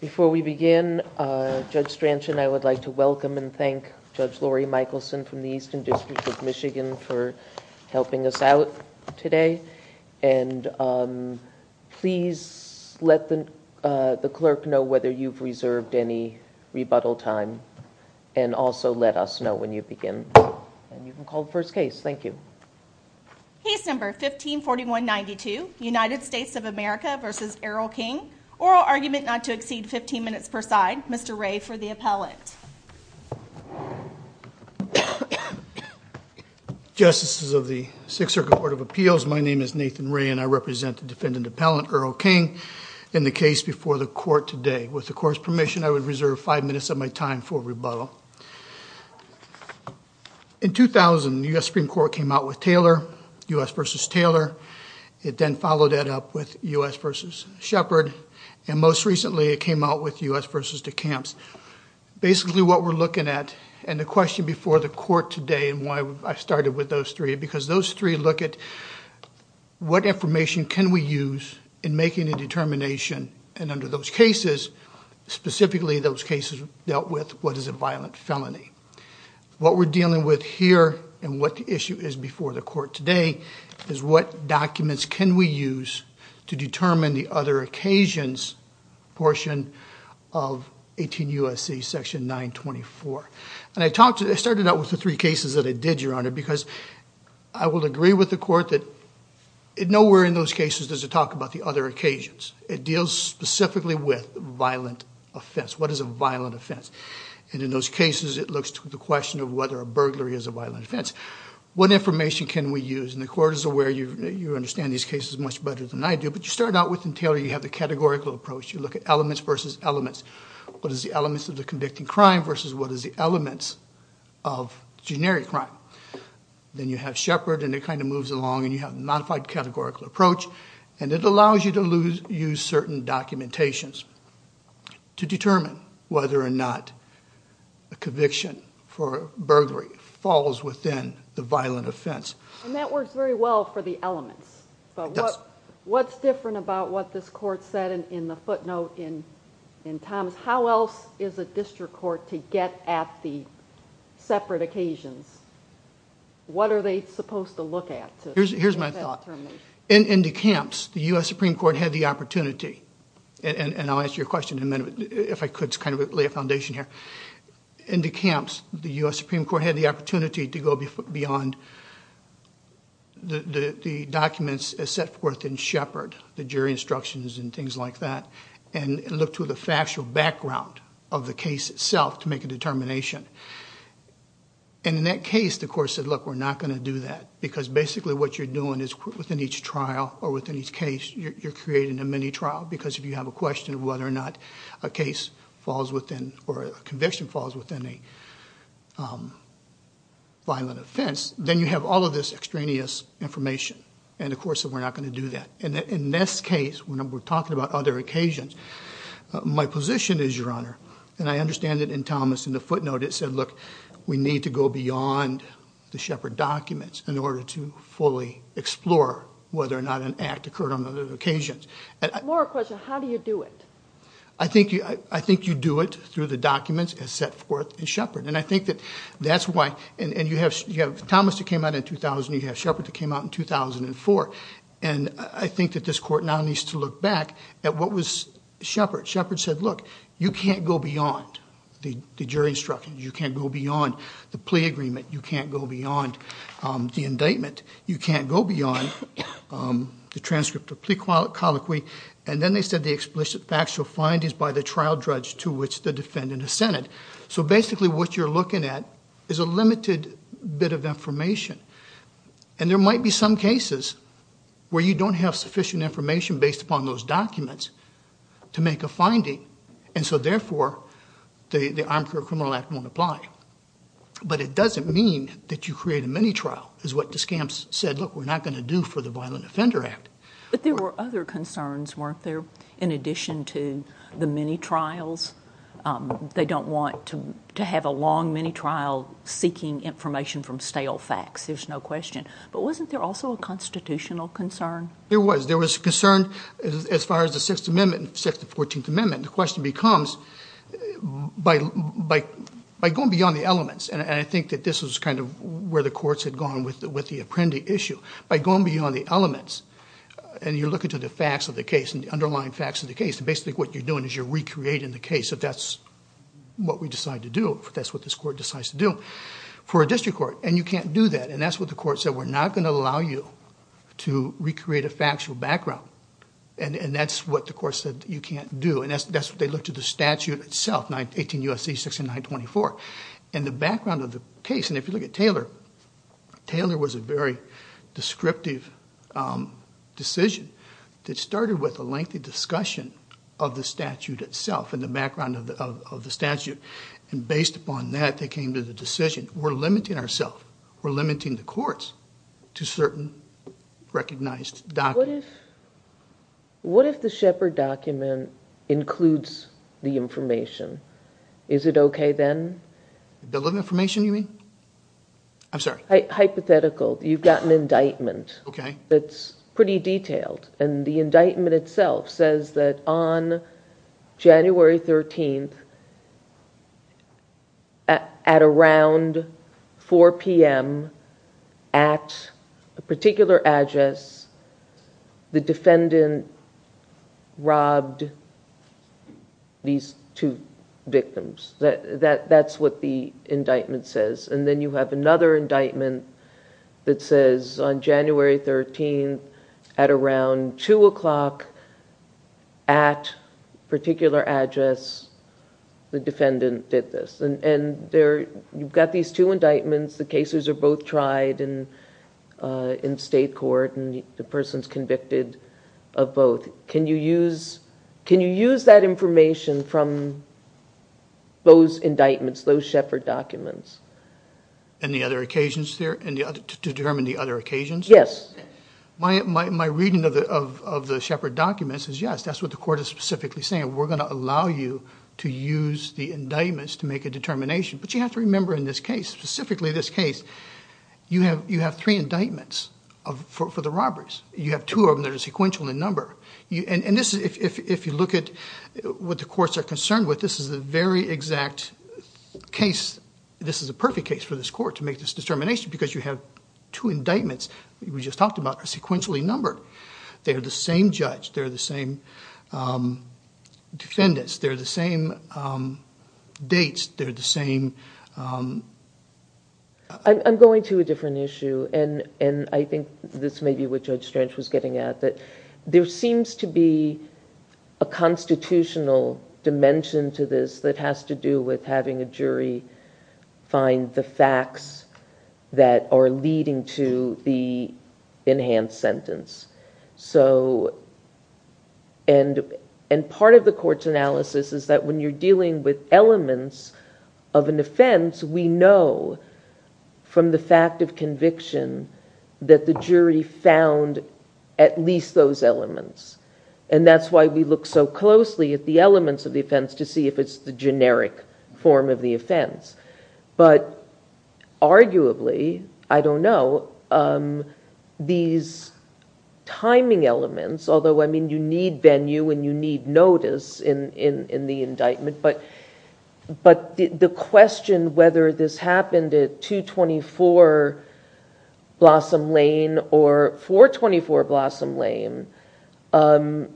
Before we begin, Judge Stranch and I would like to welcome and thank Judge Laurie Michelson from the Eastern District of Michigan for helping us out today. And please let the clerk know whether you've reserved any rebuttal time and also let us know when you begin. And you can call the first case. Thank you. Case number 154192, United States of America v. Errol King. Oral argument not to exceed 15 minutes per side. Mr. Ray for the appellant. Justices of the Sixth Circuit Court of Appeals, my name is Nathan Ray and I represent the defendant appellant Errol King in the case before the court today. With the court's permission, I would reserve five minutes of my time for rebuttal. In 2000, the U.S. Supreme Court came out with Taylor, U.S. v. Taylor. It then followed that up with U.S. v. Shepard and most recently it came out with U.S. v. DeCamps. Basically what we're looking at and the question before the court today and why I started with those three, because those three look at what information can we use in making a determination and under those cases, specifically those cases dealt with what is a violent felony. What we're dealing with here and what the issue is before the court today is what documents can we use to determine the other occasions portion of 18 U.S.C. section 924. And I talked to, I started out with the three cases that it did, Your Honor, because I will agree with the court that nowhere in those cases does it talk about the other occasions. It deals specifically with violent offense. What is a violent offense? And in those cases, it looks to the question of whether a burglary is a violent offense. What information can we use? And the court is aware, you understand these cases much better than I do, but you start out with Taylor, you have the categorical approach. You look at elements versus elements. What is the elements of the convicting crime versus what is the elements of generic crime? Then you have Shepard and it kind of moves along and you have a modified categorical approach and it allows you to use certain documentations to determine whether or not a conviction for burglary falls within the violent offense. And that works very well for the elements, but what's different about what this court said in the footnote, in Thomas, how else is a district court to get at the separate occasions? What are they supposed to look at? Here's my thought. In the camps, the U.S. Supreme Court had the opportunity, and I'll answer your question in a minute if I could kind of lay a foundation here. In the camps, the U.S. Supreme Court had the opportunity to go beyond the documents set forth in Shepard, the jury instructions and things like that, and look to the factual background of the case itself to make a determination. In that case, the court said, look, we're not going to do that because basically what you're doing is within each trial or within each case, you're creating a mini-trial because if you have a question of whether or not a case falls within or a conviction falls within a violent offense, then you have all of this extraneous information, and of course we're not going to do that. In this case, when we're talking about other occasions, my position is, Your Honor, and I understand it in Thomas in the footnote, it said, look, we need to go beyond the Shepard documents in order to fully explore whether or not an act occurred on other occasions. More a question, how do you do it? I think you do it through the documents as set forth in Shepard, and I think that that's why, and you have Thomas that came out in 2000, you have Shepard that came out in 2004, and I think that this court now needs to look back at what was Shepard. Shepard said, look, you can't go beyond the jury instructions, you can't go beyond the plea agreement, you can't go beyond the indictment, you can't go beyond the transcript of plea colloquy, and then they said the explicit factual findings by the trial judge to which the defendant dissented. So basically what you're looking at is a limited bit of information, and there might be some cases where you don't have sufficient information based upon those documents to make a finding, and so therefore the Armed Care Criminal Act won't apply. But it doesn't mean that you create a mini-trial, is what the scams said, look, we're not going to do for the Violent Offender Act. But there were other concerns, weren't there, in addition to the mini-trials? They don't want to have a long mini-trial seeking information from stale facts, there's no question. But wasn't there also a constitutional concern? There was. There was concern as far as the Sixth Amendment and the Sixth and Fourteenth Amendment. The question becomes, by going beyond the elements, and I think that this is kind of where the courts had gone with the Apprendi issue, by going beyond the elements, and you're looking to the facts of the case, the underlying facts of the case, and basically what you're doing is you're recreating the case, if that's what we decide to do, if that's what this court decides to do, for a district court. And you can't do that, and that's what the court said, we're not going to allow you to recreate a factual background. And that's what the court said you can't do, and that's what they looked at the statute itself, 18 of the case, and if you look at Taylor, Taylor was a very descriptive decision that started with a lengthy discussion of the statute itself, and the background of the statute, and based upon that they came to the decision, we're limiting ourselves, we're limiting the courts to certain recognized documents. What if the Shepard document includes the information? Is it okay then? The little information you mean? I'm sorry. Hypothetical. You've got an indictment that's pretty detailed, and the indictment itself says that on January 13th, at around 4 p.m. at a particular address, the defendant robbed these two victims. That's what the indictment says. And then you have another indictment that says on January 13th, at around 2 o'clock, at a particular address, the defendant did this. And you've got these two indictments, the cases are both tried in state court, and you use, can you use that information from those indictments, those Shepard documents? And the other occasions there, to determine the other occasions? Yes. My reading of the Shepard documents is yes, that's what the court is specifically saying, we're going to allow you to use the indictments to make a determination. But you have to remember in this case, specifically this case, you have three indictments for the robberies. You have two of them that are sequential in number. And if you look at what the courts are concerned with, this is the very exact case, this is the perfect case for this court to make this determination, because you have two indictments, we just talked about, that are sequentially numbered. They're the same judge, they're the same defendants, they're the same dates, they're the same... I'm going to a different issue, and I think this may be what Judge Strange was getting at, that there seems to be a constitutional dimension to this that has to do with having a jury find the facts that are leading to the enhanced sentence. And part of the court's from the fact of conviction that the jury found at least those elements. And that's why we look so closely at the elements of the offense to see if it's the generic form of the offense. But arguably, I don't know, these timing elements, although you need venue and you need notice in the indictment, but the question whether this happened at 224 Blossom Lane or 424 Blossom Lane, it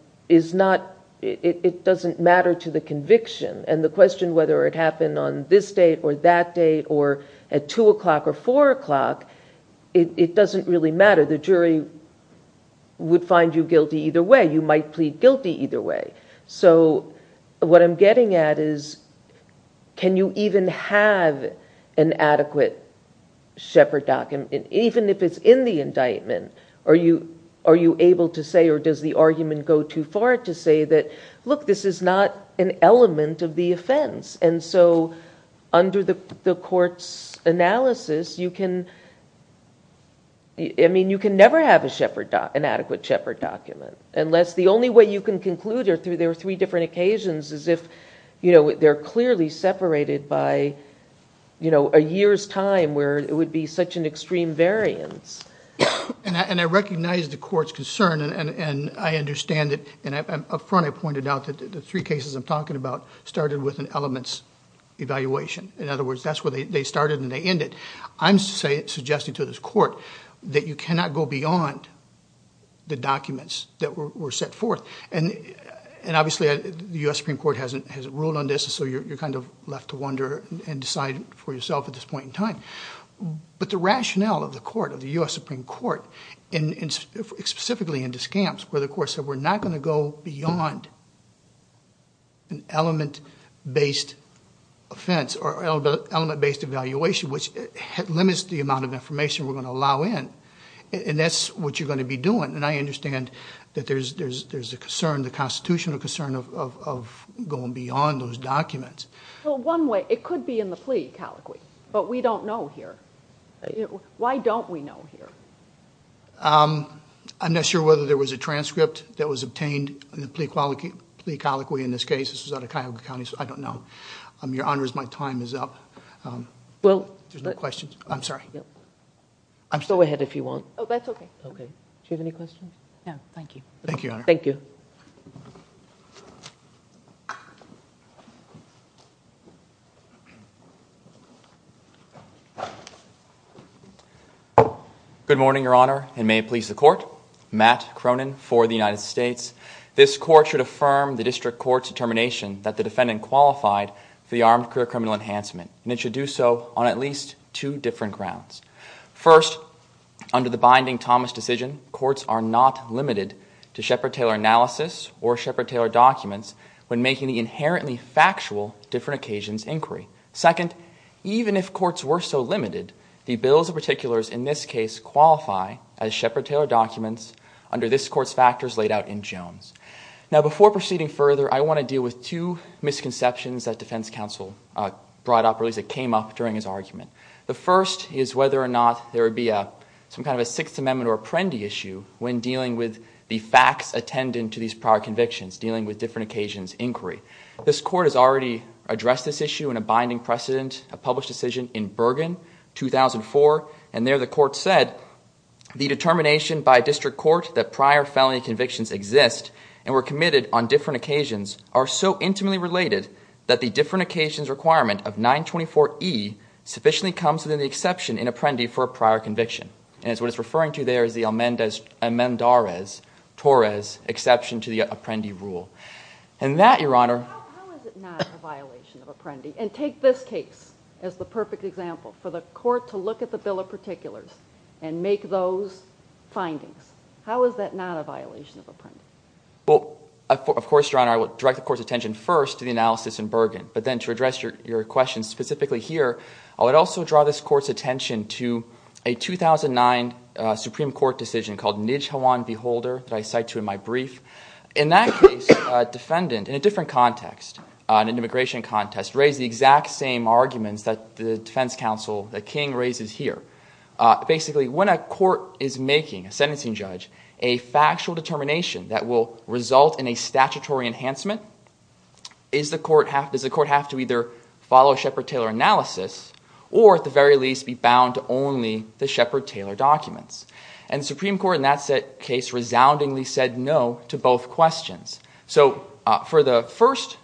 doesn't matter to the conviction. And the question whether it happened on this date or that date or at 2 o'clock or 4 o'clock, it doesn't really matter. The jury would find you guilty either way. You might plead guilty either way. So what I'm getting at is can you even have an adequate Shepherd document, even if it's in the indictment? Are you able to say or does the argument go too far to say that, look, this is not an element of the offense? And so under the court's analysis, you can never have an adequate Shepherd document unless the only way you can conclude there were three different occasions is if they're clearly separated by a year's time where it would be such an extreme variance. And I recognize the court's concern and I understand it. And up front, I pointed out that the three cases I'm talking about started with an elements evaluation. In other words, that's where they started and they ended. I'm suggesting to this court that you cannot go beyond the documents that were set forth. And obviously, the U.S. Supreme Court hasn't ruled on this. So you're kind of left to wonder and decide for yourself at this point in time. But the rationale of the court, of the U.S. Supreme Court, and specifically in this case, where the court said we're not going to go beyond an element-based offense or element-based evaluation, which limits the amount of information we're going to allow in. And that's what you're going to be doing. And I understand that there's a concern, the constitutional concern of going beyond those documents. Well, one way, it could be in the plea colloquy, but we don't know here. Why don't we know here? I'm not sure whether there was a transcript that was obtained in the plea colloquy in this case. This was out of Cuyahoga County, so I don't know. Your Honors, my time is up. There's no questions. I'm sorry. Go ahead if you want. Oh, that's okay. Okay. Do you have any questions? No, thank you. Thank you, Your Honor. Thank you. Good morning, Your Honor, and may it please the court. Matt Cronin for the United States. This court should affirm the district court's determination that the defendant qualified for the armed career criminal enhancement, and it should do so on at least two different grounds. First, under the binding Thomas decision, courts are not limited to Shepard Taylor analysis or Shepard Taylor documents when making the inherently factual different occasions inquiry. Second, even if courts were so limited, the bills of particulars in this case qualify as Shepard Taylor documents under this court's factors laid out in Jones. Now, before proceeding further, I want to deal with two misconceptions that defense counsel brought up, or at least it came up during his argument. The first is whether or not there would be some kind of a Sixth Amendment or Apprendi issue when dealing with the facts attendant to these prior convictions, dealing with different occasions inquiry. This court has already addressed this issue in a binding precedent, a published decision in Bergen, 2004, and there the court said, the determination by district court that prior felony convictions exist and were committed on different occasions are so intimately related that the different occasions requirement of 924E sufficiently comes within the exception in Apprendi for a prior conviction. And it's what it's referring to there is the Amendores-Torres exception to the Apprendi rule. And that, Your Honor... How is it not a violation of Apprendi? And take this case as the perfect example for the court to look at the bill of particulars and make those findings. How is that not a violation of Apprendi? Well, of course, Your Honor, I would direct the court's attention first to the analysis in Bergen. I would direct the court's attention to a 2009 Supreme Court decision called Nijhawan v. Holder that I cite to in my brief. In that case, a defendant in a different context, an immigration contest, raised the exact same arguments that the defense counsel, the King, raises here. Basically, when a court is making a sentencing judge a factual determination that will result in a statutory enhancement, does the court have to either follow a Shepard-Taylor analysis or, at the very least, be bound to only the Shepard-Taylor documents? And the Supreme Court in that case resoundingly said no to both questions. So for the first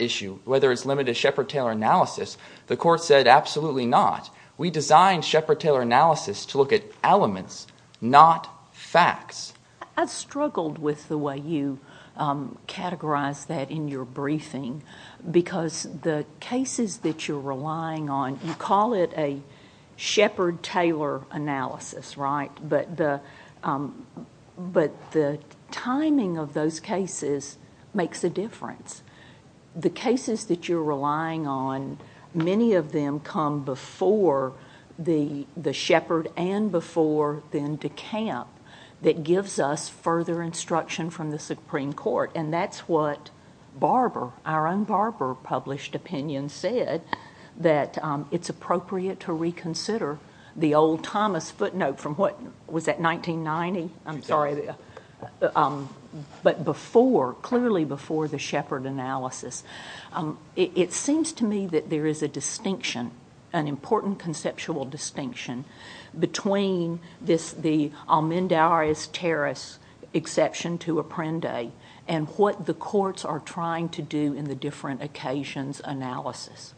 issue, whether it's limited to Shepard-Taylor analysis, the court said absolutely not. We designed Shepard-Taylor analysis to look at elements, not facts. I've struggled with the way you categorize that in your briefing because the cases that you're relying on, you call it a Shepard-Taylor analysis, right? But the timing of those cases makes a difference. The cases that you're relying on, many of them come before the Shepard and before then DeCamp that gives us further instruction from the Supreme Court. And that's what Barber, our own Barber published opinion said, that it's appropriate to reconsider the old Thomas footnote from what, was that 1990? I'm sorry, but before, clearly before the Shepard analysis. It seems to me that there is a distinction, an important conceptual distinction between this, the Almendares-Terras exception to Apprende and what the courts are trying to do in the different occasions analysis.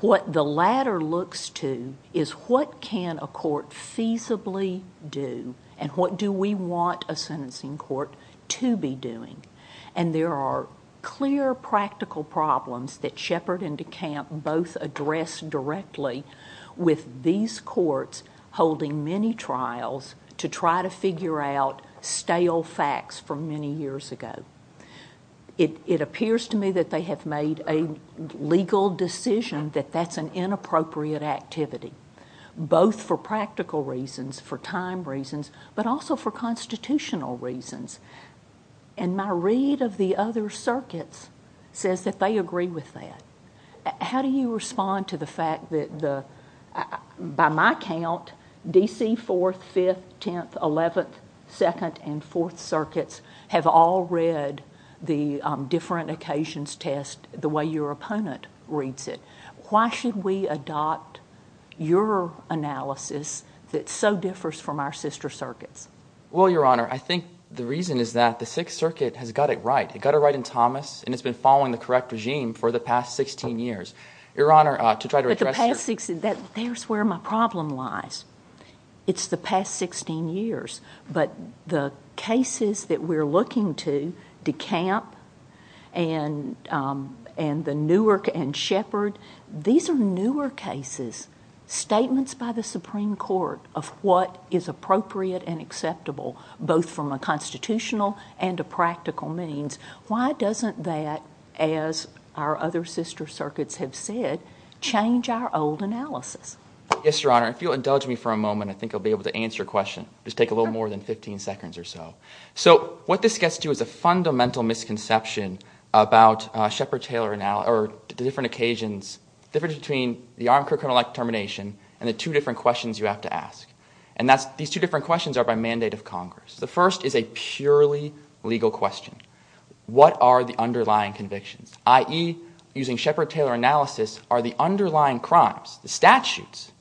What the latter looks to is what can a court feasibly do and what do we want a sentencing court to be doing? And there are clear practical problems that Shepard and DeCamp both address directly with these courts holding many trials to try to figure out stale facts from many years ago. It appears to me that they have made a legal decision that that's an inappropriate activity, both for practical reasons, for time reasons, but also for constitutional reasons. And my read of the other circuits says that they agree with that. How do you respond to the fact that the, by my count, D.C. 4th, 5th, 10th, 11th, 2nd and 4th circuits have all read the different occasions test the way your opponent reads it. Why should we adopt your analysis that so differs from our sister circuits? Well, Your Honor, I think the reason is that the 6th Circuit has got it right. It got it right in Thomas, and it's been following the correct regime for the past 16 years. Your Honor, to try to address the past six, that there's where my problem lies. It's the past 16 years. But the cases that we're looking to, DeCamp and and the Newark and Shepard, these are newer cases, statements by the Supreme Court of what is appropriate and acceptable, both from a constitutional and a practical means. Why doesn't that, as our other sister circuits have said, change our old analysis? Yes, Your Honor, if you'll indulge me for a moment, I think I'll be able to answer your question. Just take a little more than 15 seconds or so. So what this gets to is a fundamental misconception about Shepard-Taylor or the different occasions, the difference between the armed criminal act termination and the two different questions you have to ask. And that's these two different questions are by mandate of Congress. The first is a purely legal question. What are the underlying convictions, i.e. using Shepard-Taylor analysis, are the underlying crimes, the statutes,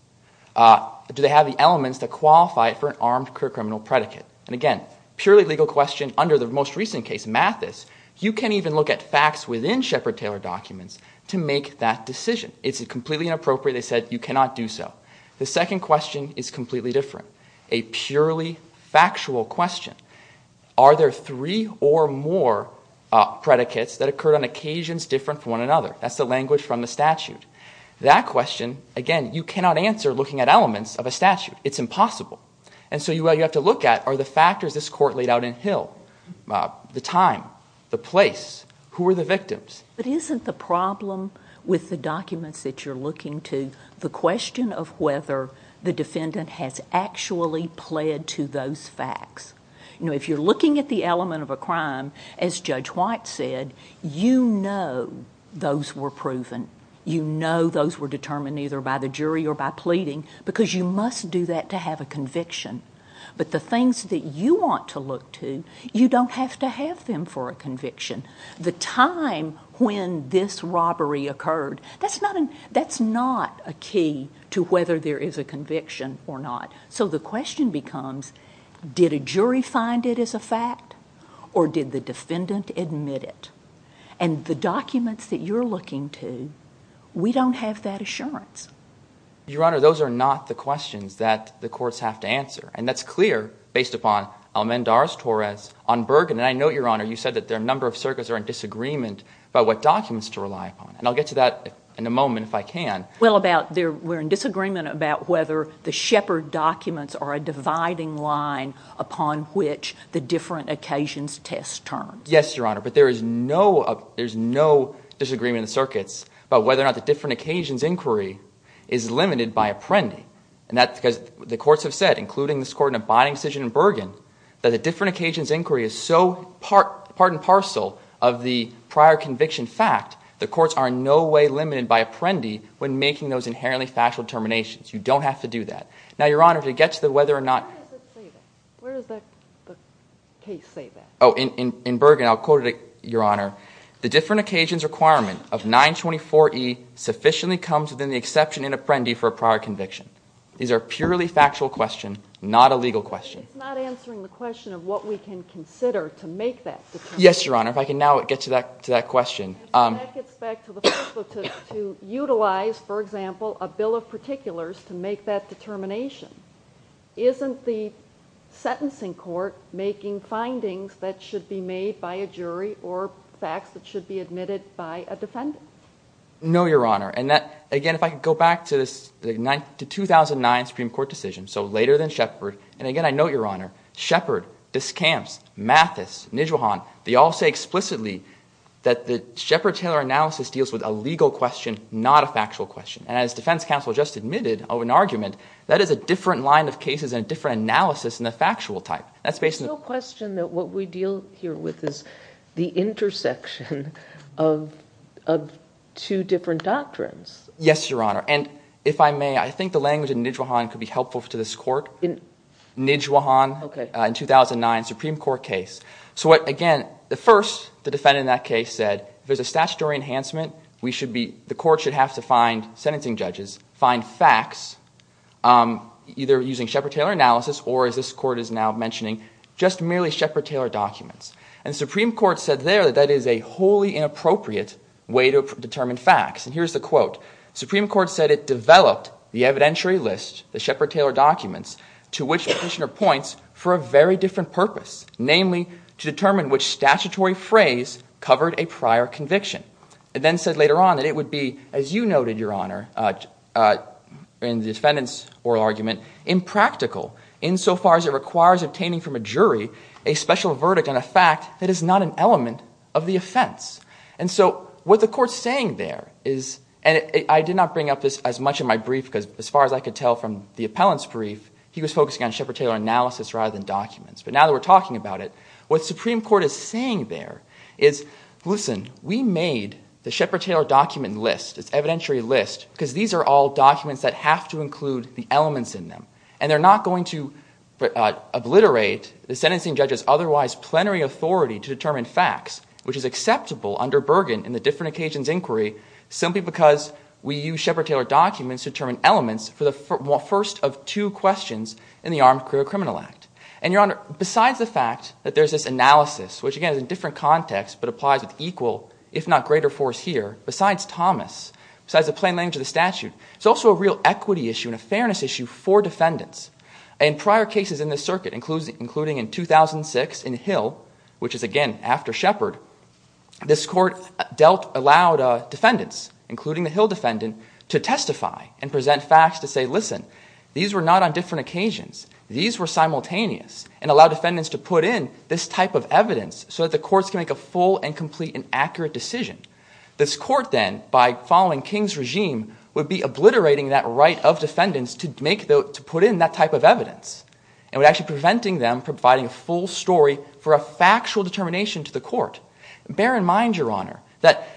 do they have the elements that qualify for an armed criminal predicate? And again, purely legal question under the most recent case, Mathis, you can't even look at facts within Shepard-Taylor documents to make that decision. It's completely inappropriate. They said you cannot do so. The second question is completely different. A purely factual question. Are there three or more predicates that occurred on occasions different from one another? That's the language from the statute. That question, again, you cannot answer looking at elements of a statute. It's impossible. And so you have to look at are the factors this court laid out in Hill, the time, the place, who are the victims? But isn't the problem with the documents that you're looking to the question of whether the crime actually pled to those facts? You know, if you're looking at the element of a crime, as Judge White said, you know those were proven. You know those were determined either by the jury or by pleading because you must do that to have a conviction. But the things that you want to look to, you don't have to have them for a conviction. The time when this robbery occurred, that's not a key to whether there is a conviction or not. So the question becomes, did a jury find it as a fact or did the defendant admit it? And the documents that you're looking to, we don't have that assurance. Your Honor, those are not the questions that the courts have to answer. And that's clear based upon Almendarez-Torres on Bergen. And I know, Your Honor, you said that there are a number of circuits that are in disagreement about what documents to rely upon. And I'll get to that in a moment if I can. Well, we're in disagreement about whether the Shepard documents are a dividing line upon which the different occasions test turns. Yes, Your Honor. But there is no disagreement in the circuits about whether or not the different occasions inquiry is limited by Apprendi. And that's because the courts have said, including this court in a binding decision in Bergen, that the different occasions inquiry is so part and parcel of the prior conviction that, in fact, the courts are in no way limited by Apprendi when making those inherently factual determinations. You don't have to do that. Now, Your Honor, to get to the whether or not... Where does it say that? Where does the case say that? Oh, in Bergen, I'll quote it, Your Honor. The different occasions requirement of 924E sufficiently comes within the exception in Apprendi for a prior conviction. These are purely factual questions, not a legal question. It's not answering the question of what we can consider to make that determination. Yes, Your Honor. If I can now get to that to that question. And that gets back to the first one, to utilize, for example, a bill of particulars to make that determination. Isn't the sentencing court making findings that should be made by a jury or facts that should be admitted by a defendant? No, Your Honor. And again, if I could go back to 2009 Supreme Court decision, so later than Shepard, Discamps, Mathis, Nijwahan, they all say explicitly that the Shepard-Taylor analysis deals with a legal question, not a factual question. And as defense counsel just admitted of an argument, that is a different line of cases and a different analysis in the factual type. That's based on... No question that what we deal here with is the intersection of two different doctrines. Yes, Your Honor. And if I may, I think the language in Nijwahan could be helpful to this 2009 Supreme Court case. So what, again, the first, the defendant in that case said, if there's a statutory enhancement, the court should have to find sentencing judges, find facts either using Shepard-Taylor analysis or, as this court is now mentioning, just merely Shepard-Taylor documents. And the Supreme Court said there that that is a wholly inappropriate way to determine facts. And here's the quote. Supreme Court said it developed the evidentiary list, the Shepard-Taylor documents, to which Petitioner points for a very different purpose, namely to determine which statutory phrase covered a prior conviction. It then said later on that it would be, as you noted, Your Honor, in the defendant's oral argument, impractical insofar as it requires obtaining from a jury a special verdict on a fact that is not an element of the offense. And so what the court's saying there is, and I did not bring up this as much in my last brief, he was focusing on Shepard-Taylor analysis rather than documents. But now that we're talking about it, what the Supreme Court is saying there is, listen, we made the Shepard-Taylor document list, its evidentiary list, because these are all documents that have to include the elements in them. And they're not going to obliterate the sentencing judge's otherwise plenary authority to determine facts, which is acceptable under Bergen in the different occasions inquiry simply because we use Shepard-Taylor documents to determine elements for the first of two questions in the Armed Career Criminal Act. And Your Honor, besides the fact that there's this analysis, which again is in different context, but applies with equal, if not greater force here, besides Thomas, besides the plain language of the statute, it's also a real equity issue and a fairness issue for defendants. In prior cases in this circuit, including in 2006 in Hill, which is again after Shepard, this court allowed defendants, including the Hill defendant, to testify and present facts to say, listen, these were not on different occasions. These were simultaneous and allowed defendants to put in this type of evidence so that the courts can make a full and complete and accurate decision. This court then, by following King's regime, would be obliterating that right of defendants to put in that type of evidence and would actually be preventing them from providing a full story for a factual determination to the court. Bear in mind, Your Honor, that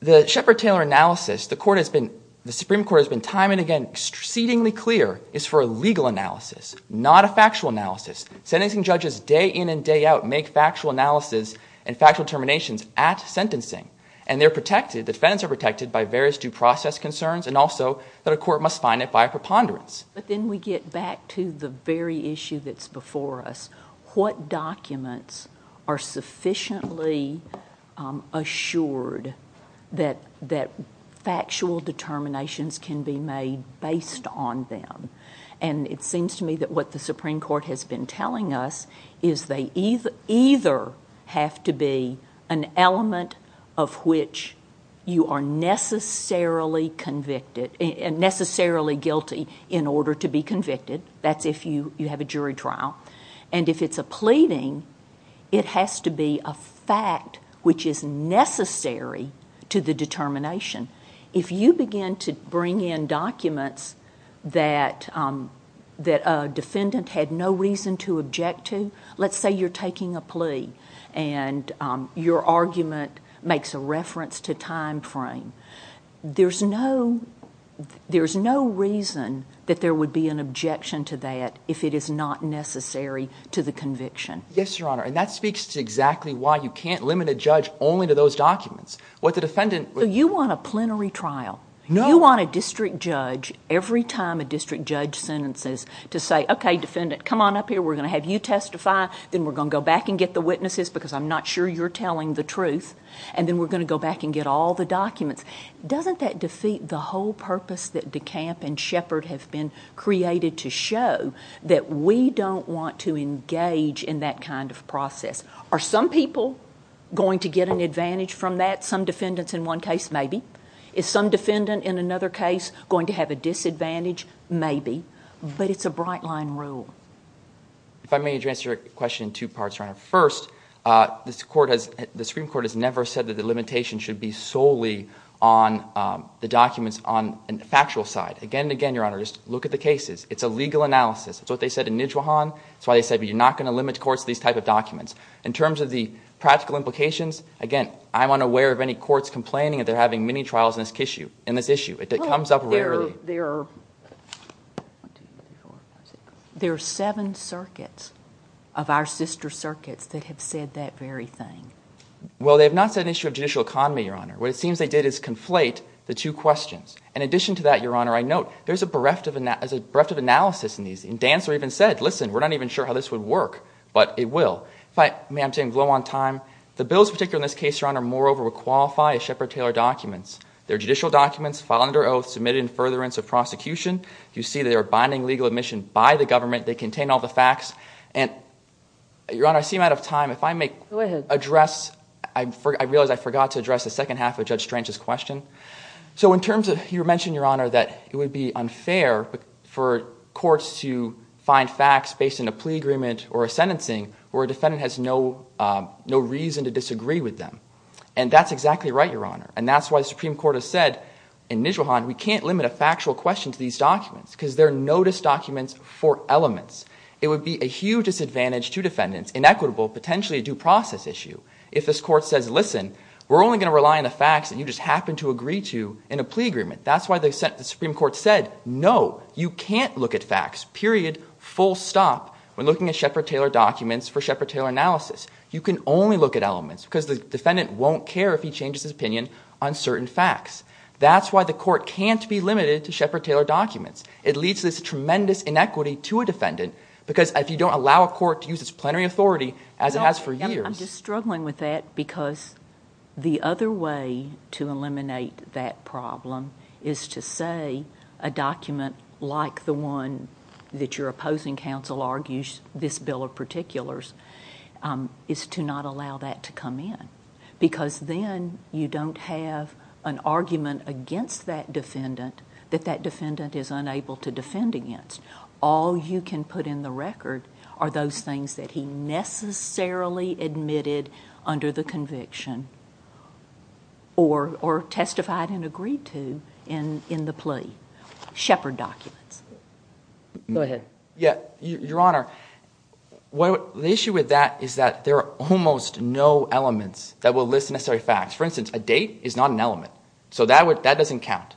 the Shepard-Taylor analysis, the Supreme Court has been time and again exceedingly clear, is for a legal analysis, not a factual analysis. Sentencing judges day in and day out make factual analysis and factual determinations at sentencing, and they're protected, defendants are protected by various due process concerns and also that a court must find it by a preponderance. But then we get back to the very issue that's before us. What documents are sufficiently assured that that factual determinations can be made based on them? And it seems to me that what the Supreme Court has been telling us is they either either have to be an element of which you are necessarily convicted and necessarily guilty in order to be convicted. That's if you you have a jury trial. And if it's a pleading, it has to be a fact which is necessary to the determination. If you begin to bring in documents that that a defendant had no reason to object to, let's say you're taking a plea and your argument makes a reference to time frame. There's no there's no reason that there would be an objection to that if it is not necessary to the conviction. Yes, Your Honor. And that speaks to exactly why you can't limit a judge only to those documents. What the defendant. You want a plenary trial. No, you want a district judge every time a district judge sentences to say, OK, defendant, come on up here. We're going to have you testify. Then we're going to go back and get the witnesses because I'm not sure you're telling the truth. And then we're going to go back and get all the documents. Doesn't that defeat the whole purpose that DeCamp and Shepard have been created to show that we don't want to engage in that kind of process? Are some people going to get an advantage from that? Some defendants in one case, maybe. Is some defendant in another case going to have a disadvantage? Maybe. But it's a bright line rule. If I may address your question in two parts, Your Honor. First, the Supreme Court has never said that the limitation should be solely on the documents on a factual side. Again and again, Your Honor, just look at the cases. It's a legal analysis. It's what they said in Nijwahan. That's why they said, but you're not going to limit courts to these type of documents. In terms of the practical implications, again, I'm unaware of any courts complaining that they're having many trials in this issue. It comes up rarely. There are seven circuits of our sister circuits that have said that very thing. Well, they have not said an issue of judicial economy, Your Honor. What it seems they did is conflate the two questions. In addition to that, Your Honor, I note there's a bereft of analysis in these. And Dancer even said, listen, we're not even sure how this would work, but it will. If I may, I'm taking a blow on time. The bills, particularly in this case, Your Honor, moreover, would qualify as Shepard-Taylor documents. They're judicial documents filed under oath, submitted in furtherance of prosecution. You see they are binding legal admission by the government. They contain all the facts. And Your Honor, I seem out of time. If I may address, I realize I forgot to address the second half of Judge Strange's question. So in terms of, you mentioned, Your Honor, that it would be unfair for courts to find facts based in a plea agreement or a sentencing where a defendant has no reason to disagree with them. And that's exactly right, Your Honor. And that's why the Supreme Court has said, in Nijelhan, we can't limit a factual question to these documents because they're notice documents for elements. It would be a huge disadvantage to defendants, inequitable, potentially a due process issue, if this court says, listen, we're only going to rely on the facts that you just happen to agree to in a plea agreement. That's why the Supreme Court said, no, you can't look at facts, period, full stop, when looking at Shepard-Taylor documents for Shepard-Taylor analysis. You can only look at elements because the defendant won't care if he changes his mind on certain facts. That's why the court can't be limited to Shepard-Taylor documents. It leads to this tremendous inequity to a defendant because if you don't allow a court to use its plenary authority, as it has for years. I'm just struggling with that because the other way to eliminate that problem is to say a document like the one that your opposing counsel argues this bill of particulars is to not allow that to come in. Because then you don't have an argument against that defendant that that defendant is unable to defend against. All you can put in the record are those things that he necessarily admitted under the conviction or testified and agreed to in the plea, Shepard documents. Go ahead. Your Honor, the issue with that is that there are almost no elements that will list necessary facts. For instance, a date is not an element, so that doesn't count.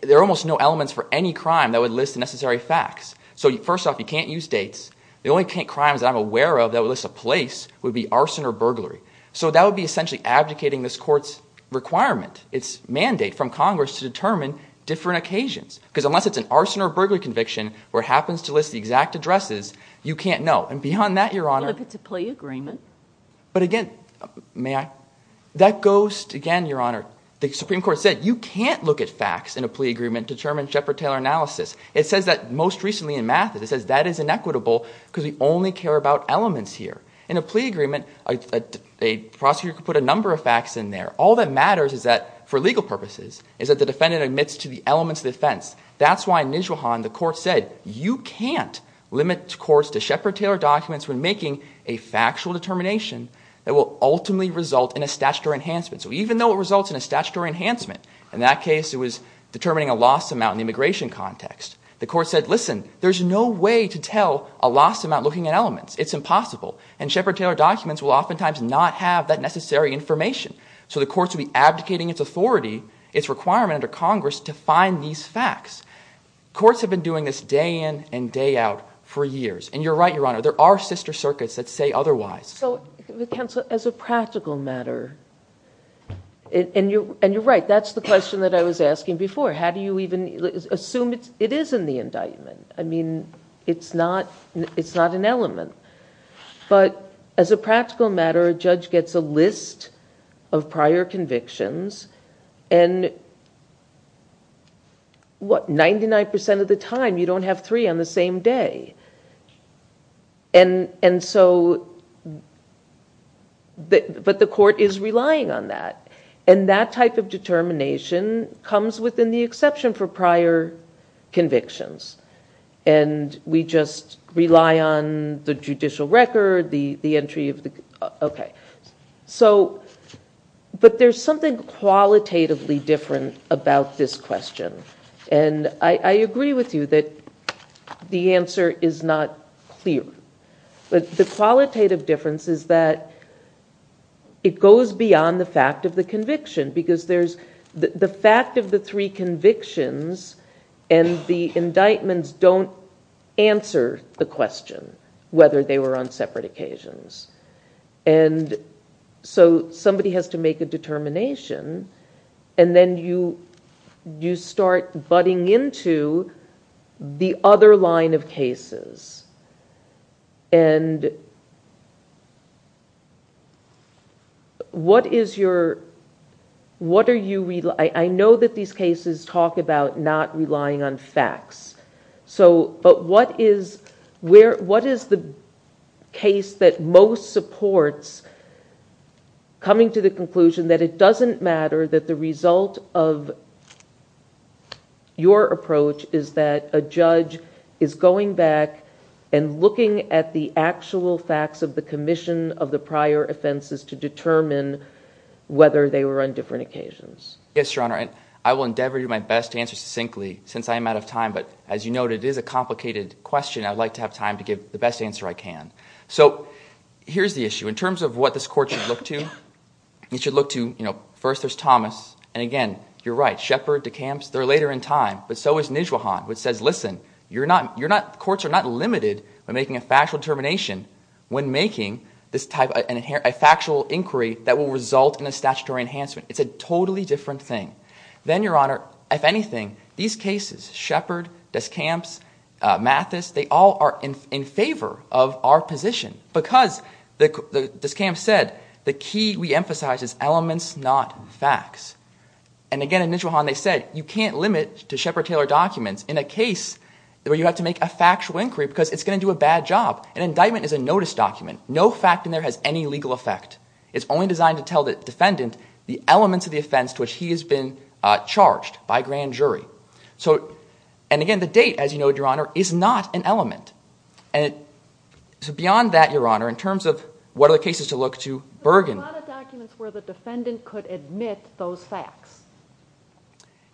There are almost no elements for any crime that would list the necessary facts. First off, you can't use dates. The only crimes that I'm aware of that would list a place would be arson or burglary. That would be essentially abdicating this court's requirement, its mandate from Congress to determine different occasions. Because unless it's an arson or burglary conviction where it happens to list the exact addresses, you can't know. And beyond that, Your Honor. Well, if it's a plea agreement. But again, may I? That goes, again, Your Honor, the Supreme Court said you can't look at facts in a plea agreement to determine Shepard-Taylor analysis. It says that most recently in Mathis, it says that is inequitable because we only care about elements here. In a plea agreement, a prosecutor could put a number of facts in there. All that matters is that for legal purposes is that the defendant admits to the elements of the offense. That's why in Nijelhan, the court said you can't limit courts to Shepard-Taylor documents when making a factual determination that will ultimately result in a statutory enhancement. So even though it results in a statutory enhancement, in that case, it was determining a loss amount in the immigration context. The court said, listen, there's no way to tell a loss amount looking at elements. It's impossible. And Shepard-Taylor documents will oftentimes not have that necessary information. So the courts will be abdicating its authority, its requirement under Congress to find these facts. Courts have been doing this day in and day out for years. And you're right, Your Honor, there are sister circuits that say otherwise. So counsel, as a practical matter, and you're right, that's the question that I was asking before. How do you even assume it is in the indictment? I mean, it's not an element, but as a practical matter, a judge gets a list of what, 99% of the time, you don't have three on the same day. And so, but the court is relying on that. And that type of determination comes within the exception for prior convictions. And we just rely on the judicial record, the entry of the, okay. So, but there's something qualitatively different about this question. And I agree with you that the answer is not clear, but the qualitative difference is that it goes beyond the fact of the conviction because there's the fact of the three convictions and the indictments don't answer the question, whether they were on separate occasions. And so somebody has to make a determination and then you start butting into the other line of cases and what is your, what are you, I know that these cases talk about not relying on facts. So, but what is where, what is the case that most supports coming to the conclusion that it doesn't matter that the result of your approach is that a judge is going back and looking at the actual facts of the commission of the prior offenses to determine whether they were on different occasions? Yes, Your Honor. And I will endeavor to do my best to answer succinctly since I'm out of time, but as you noted, it is a complicated question. I'd like to have time to give the best answer I can. So here's the issue in terms of what this court should look to. You should look to, you know, first there's Thomas and again, you're right. Shepard, DeCamps, they're later in time, but so is Nijwahan, which says, listen, you're not, you're not, courts are not limited by making a factual determination when making this type of a factual inquiry that will result in a statutory enhancement. It's a totally different thing. Then, Your Honor, if anything, these cases, Shepard, DeCamps, Mathis, they all are in favor of our position because DeCamps said the key we emphasize is elements, not facts. And again, in Nijwahan, they said you can't limit to Shepard Taylor documents in a case where you have to make a factual inquiry because it's going to do a bad job. An indictment is a notice document. No fact in there has any legal effect. It's only designed to tell the defendant the elements of the offense to which he has been charged by grand jury. So, and again, the date, as you know, Your Honor, is not an element. And so beyond that, Your Honor, in terms of what are the cases to look to, Bergen. There's a lot of documents where the defendant could admit those facts.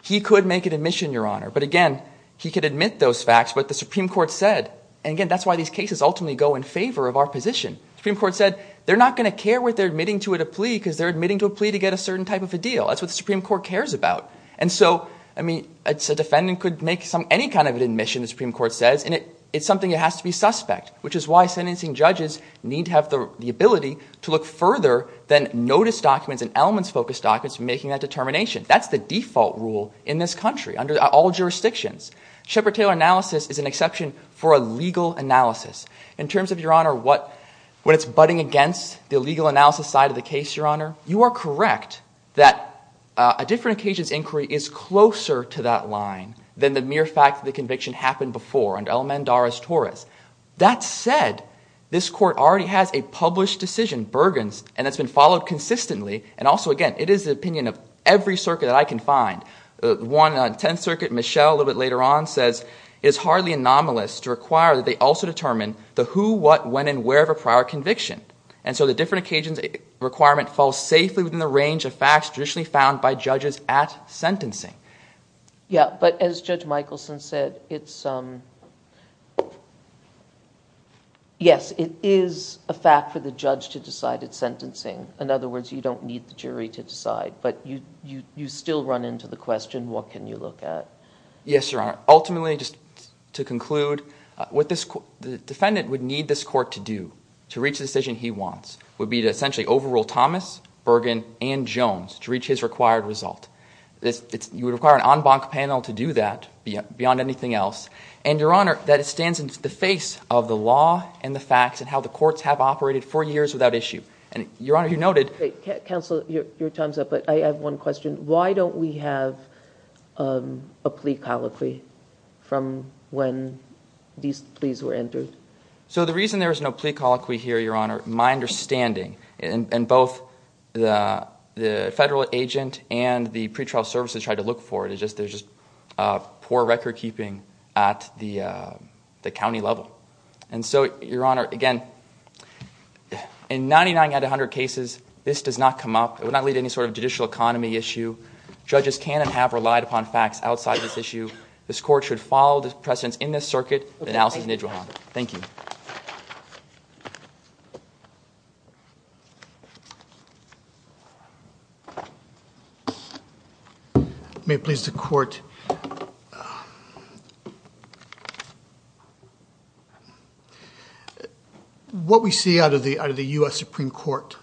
He could make an admission, Your Honor, but again, he could admit those facts, but the Supreme Court said, and again, that's why these cases ultimately go in favor of our position. Supreme Court said they're not going to care what they're admitting to at a plea because they're admitting to a plea to get a certain type of a deal. That's what the Supreme Court cares about. And so, I mean, it's a defendant could make some, any kind of an admission, the Supreme Court says. And it, it's something that has to be suspect, which is why sentencing judges need to have the ability to look further than notice documents and elements focused documents for making that determination. That's the default rule in this country under all jurisdictions. Shepard Taylor analysis is an exception for a legal analysis. In terms of, Your Honor, what, when it's budding against the legal analysis side of the case, Your Honor, you are correct that a different occasion's inquiry is closer to that line than the mere fact that the conviction happened before under Elmendarez-Torres. That said, this court already has a published decision, Bergen's, and it's been followed consistently. And also, again, it is the opinion of every circuit that I can find. The one on 10th circuit, Michelle, a little bit later on says it's hardly anomalous to require that they also determine the who, what, when, and wherever prior conviction. And so the different occasions requirement falls safely within the range of facts traditionally found by judges at sentencing. Yeah. But as Judge Michelson said, it's, um, yes, it is a fact for the judge to decide it's sentencing. In other words, you don't need the jury to decide, but you, you, you still run into the question. What can you look at? Yes, Your Honor. Ultimately, just to conclude, uh, what this court, the defendant would need this court to do to reach the decision he wants would be to essentially overrule Thomas, Bergen, and Jones to reach his required result. This it's, you would require an en banc panel to do that beyond anything else. And Your Honor, that it stands in the face of the law and the facts and how the courts have operated for years without issue and Your Honor, you noted. Counsel, your time's up, but I have one question. Why don't we have, um, a plea colloquy from when these pleas were entered? So the reason there is no plea colloquy here, Your Honor, my understanding and both the, the federal agent and the pretrial services tried to look for it. It's just, there's just a poor record keeping at the, uh, the county level. And so Your Honor, again, in 99 out of a hundred cases, this does not come up. It would not lead to any sort of judicial economy issue. Judges can and have relied upon facts outside of this issue. This court should follow the precedents in this circuit. Analysis, and then Your Honor, thank you. May it please the court. What we see out of the, out of the U.S. Supreme court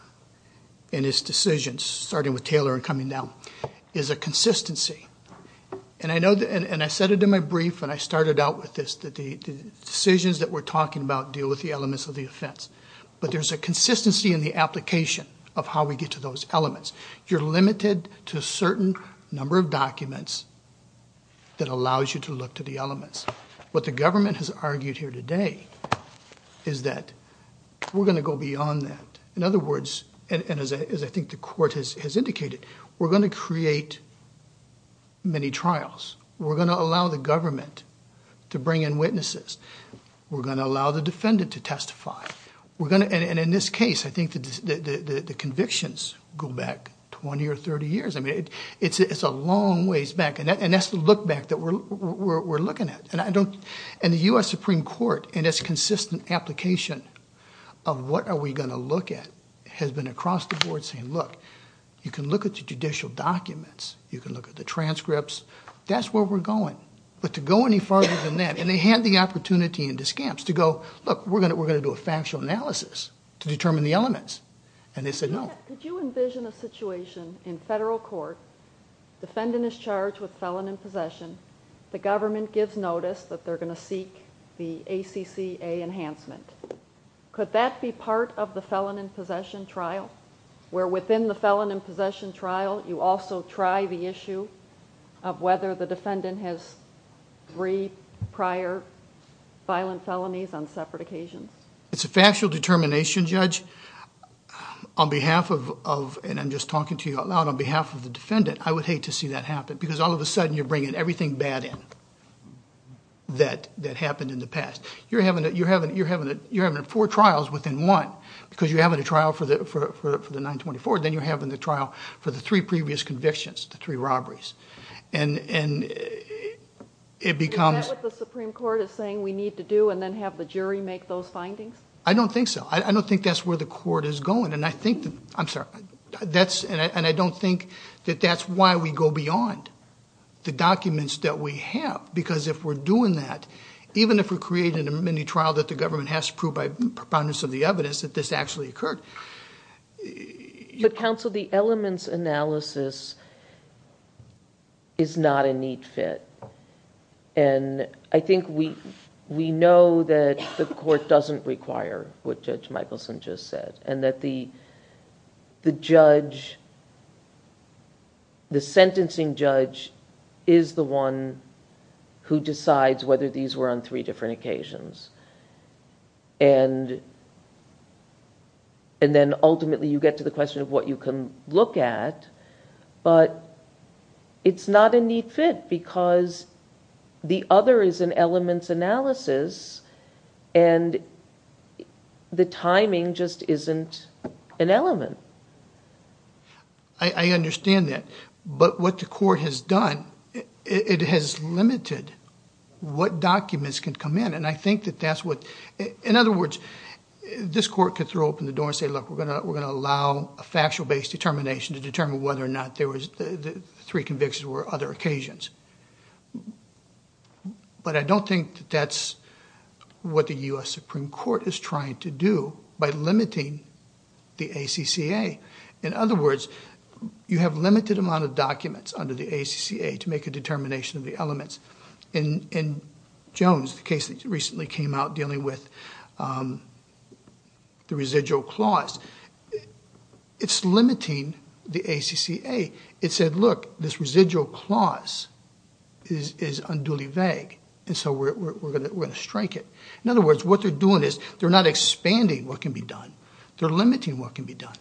in his decisions, starting with Taylor and coming down is a consistency and I know that, and I said it in my brief and I started out with this, that the decisions that we're talking about deal with the elements of the offense, but there's a consistency in the application of how we get to those elements. You're limited to a certain number of documents that allows you to look to the elements. What the government has argued here today is that we're going to go beyond that. In other words, and as I think the court has indicated, we're going to create many to bring in witnesses. We're going to allow the defendant to testify. We're going to, and in this case, I think the convictions go back 20 or 30 years. I mean, it's a long ways back and that's the look back that we're looking at. And I don't, and the U.S. Supreme court in its consistent application of what are we going to look at has been across the board saying, look, you can look at the judicial documents, you can look at the transcripts, that's where we're going. But to go any farther than that, and they had the opportunity in discounts to go, look, we're going to, we're going to do a factual analysis to determine the elements and they said, no. Could you envision a situation in federal court, defendant is charged with felon in possession, the government gives notice that they're going to seek the ACCA enhancement. Could that be part of the felon in possession trial where within the defendant has three prior violent felonies on separate occasions? It's a factual determination judge on behalf of, and I'm just talking to you out loud, on behalf of the defendant, I would hate to see that happen because all of a sudden you're bringing everything bad in that happened in the past, you're having four trials within one because you're having a trial for the 924, then you're having the trial for the three previous convictions, the three robberies. And it becomes- Is that what the Supreme Court is saying we need to do and then have the jury make those findings? I don't think so. I don't think that's where the court is going. And I think, I'm sorry, that's, and I don't think that that's why we go beyond the documents that we have, because if we're doing that, even if we're creating a mini trial that the government has to prove by proponents of the evidence that this actually occurred- But counsel, the elements analysis is not a neat fit. And I think we know that the court doesn't require what Judge Michaelson just said, and that the judge, the sentencing judge is the one who decides whether these were on three different occasions, and then ultimately you get to the question of what you can look at, but it's not a neat fit because the other is an elements analysis and the timing just isn't an element. I understand that, but what the court has done, it has limited what documents can come in, and I think that that's what, in other words, this court could throw open the door and say, look, we're going to allow a factual-based determination to determine whether or not there was, the three convictions were other occasions, but I don't think that that's what the U.S. Supreme Court is trying to do by limiting the ACCA. In other words, you have limited amount of documents under the ACCA to make a determination of the elements. In Jones, the case that recently came out dealing with the residual clause, it's limiting the ACCA. It said, look, this residual clause is unduly vague, and so we're going to strike it. In other words, what they're doing is they're not expanding what can be done. They're limiting what can be done.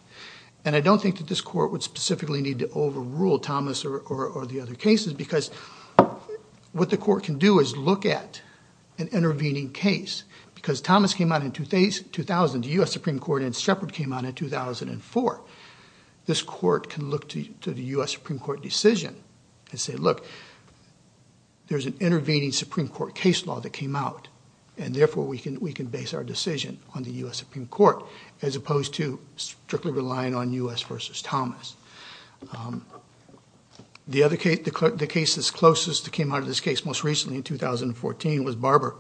And I don't think that this court would specifically need to overrule Thomas or the other cases because what the court can do is look at an intervening case because Thomas came out in 2000, the U.S. Supreme Court, and Shepard came out in 2004. This court can look to the U.S. Supreme Court decision and say, look, there's an intervening Supreme Court case law that came out, and therefore, we can base our decision on the U.S. Supreme Court as opposed to strictly relying on U.S. versus Thomas. The other case, the case that's closest that came out of this case most recently in 2014 was Barber,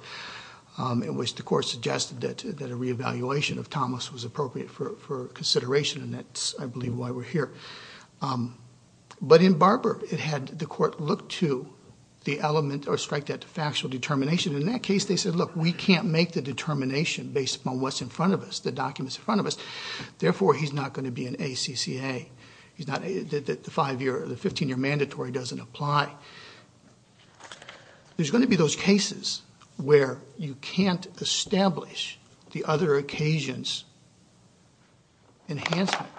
in which the court suggested that a reevaluation of Thomas was appropriate for consideration, and that's, I believe, why we're here. But in Barber, it had the court look to the element or strike that factual determination. In that case, they said, look, we can't make the determination based upon what's in front of us, the documents in front of us. Therefore, he's not going to be an ACCA, the 15-year mandatory doesn't apply. There's going to be those cases where you can't establish the other occasions enhancement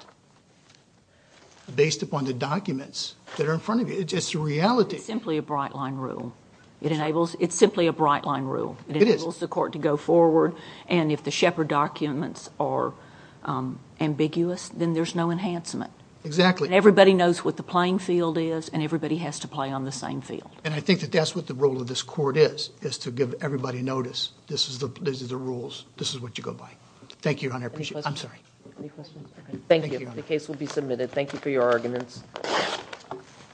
based upon the documents that are in front of you. It's the reality. It's simply a bright-line rule. It's simply a bright-line rule. It enables the court to go forward, and if the Shepard documents are ambiguous, then there's no enhancement. Everybody knows what the playing field is, and everybody has to play on the same field. I think that that's what the role of this court is, is to give everybody notice this is the rules. This is what you go by. Thank you, Your Honor. I appreciate it. I'm sorry. Any questions? Okay. Thank you. The case will be submitted.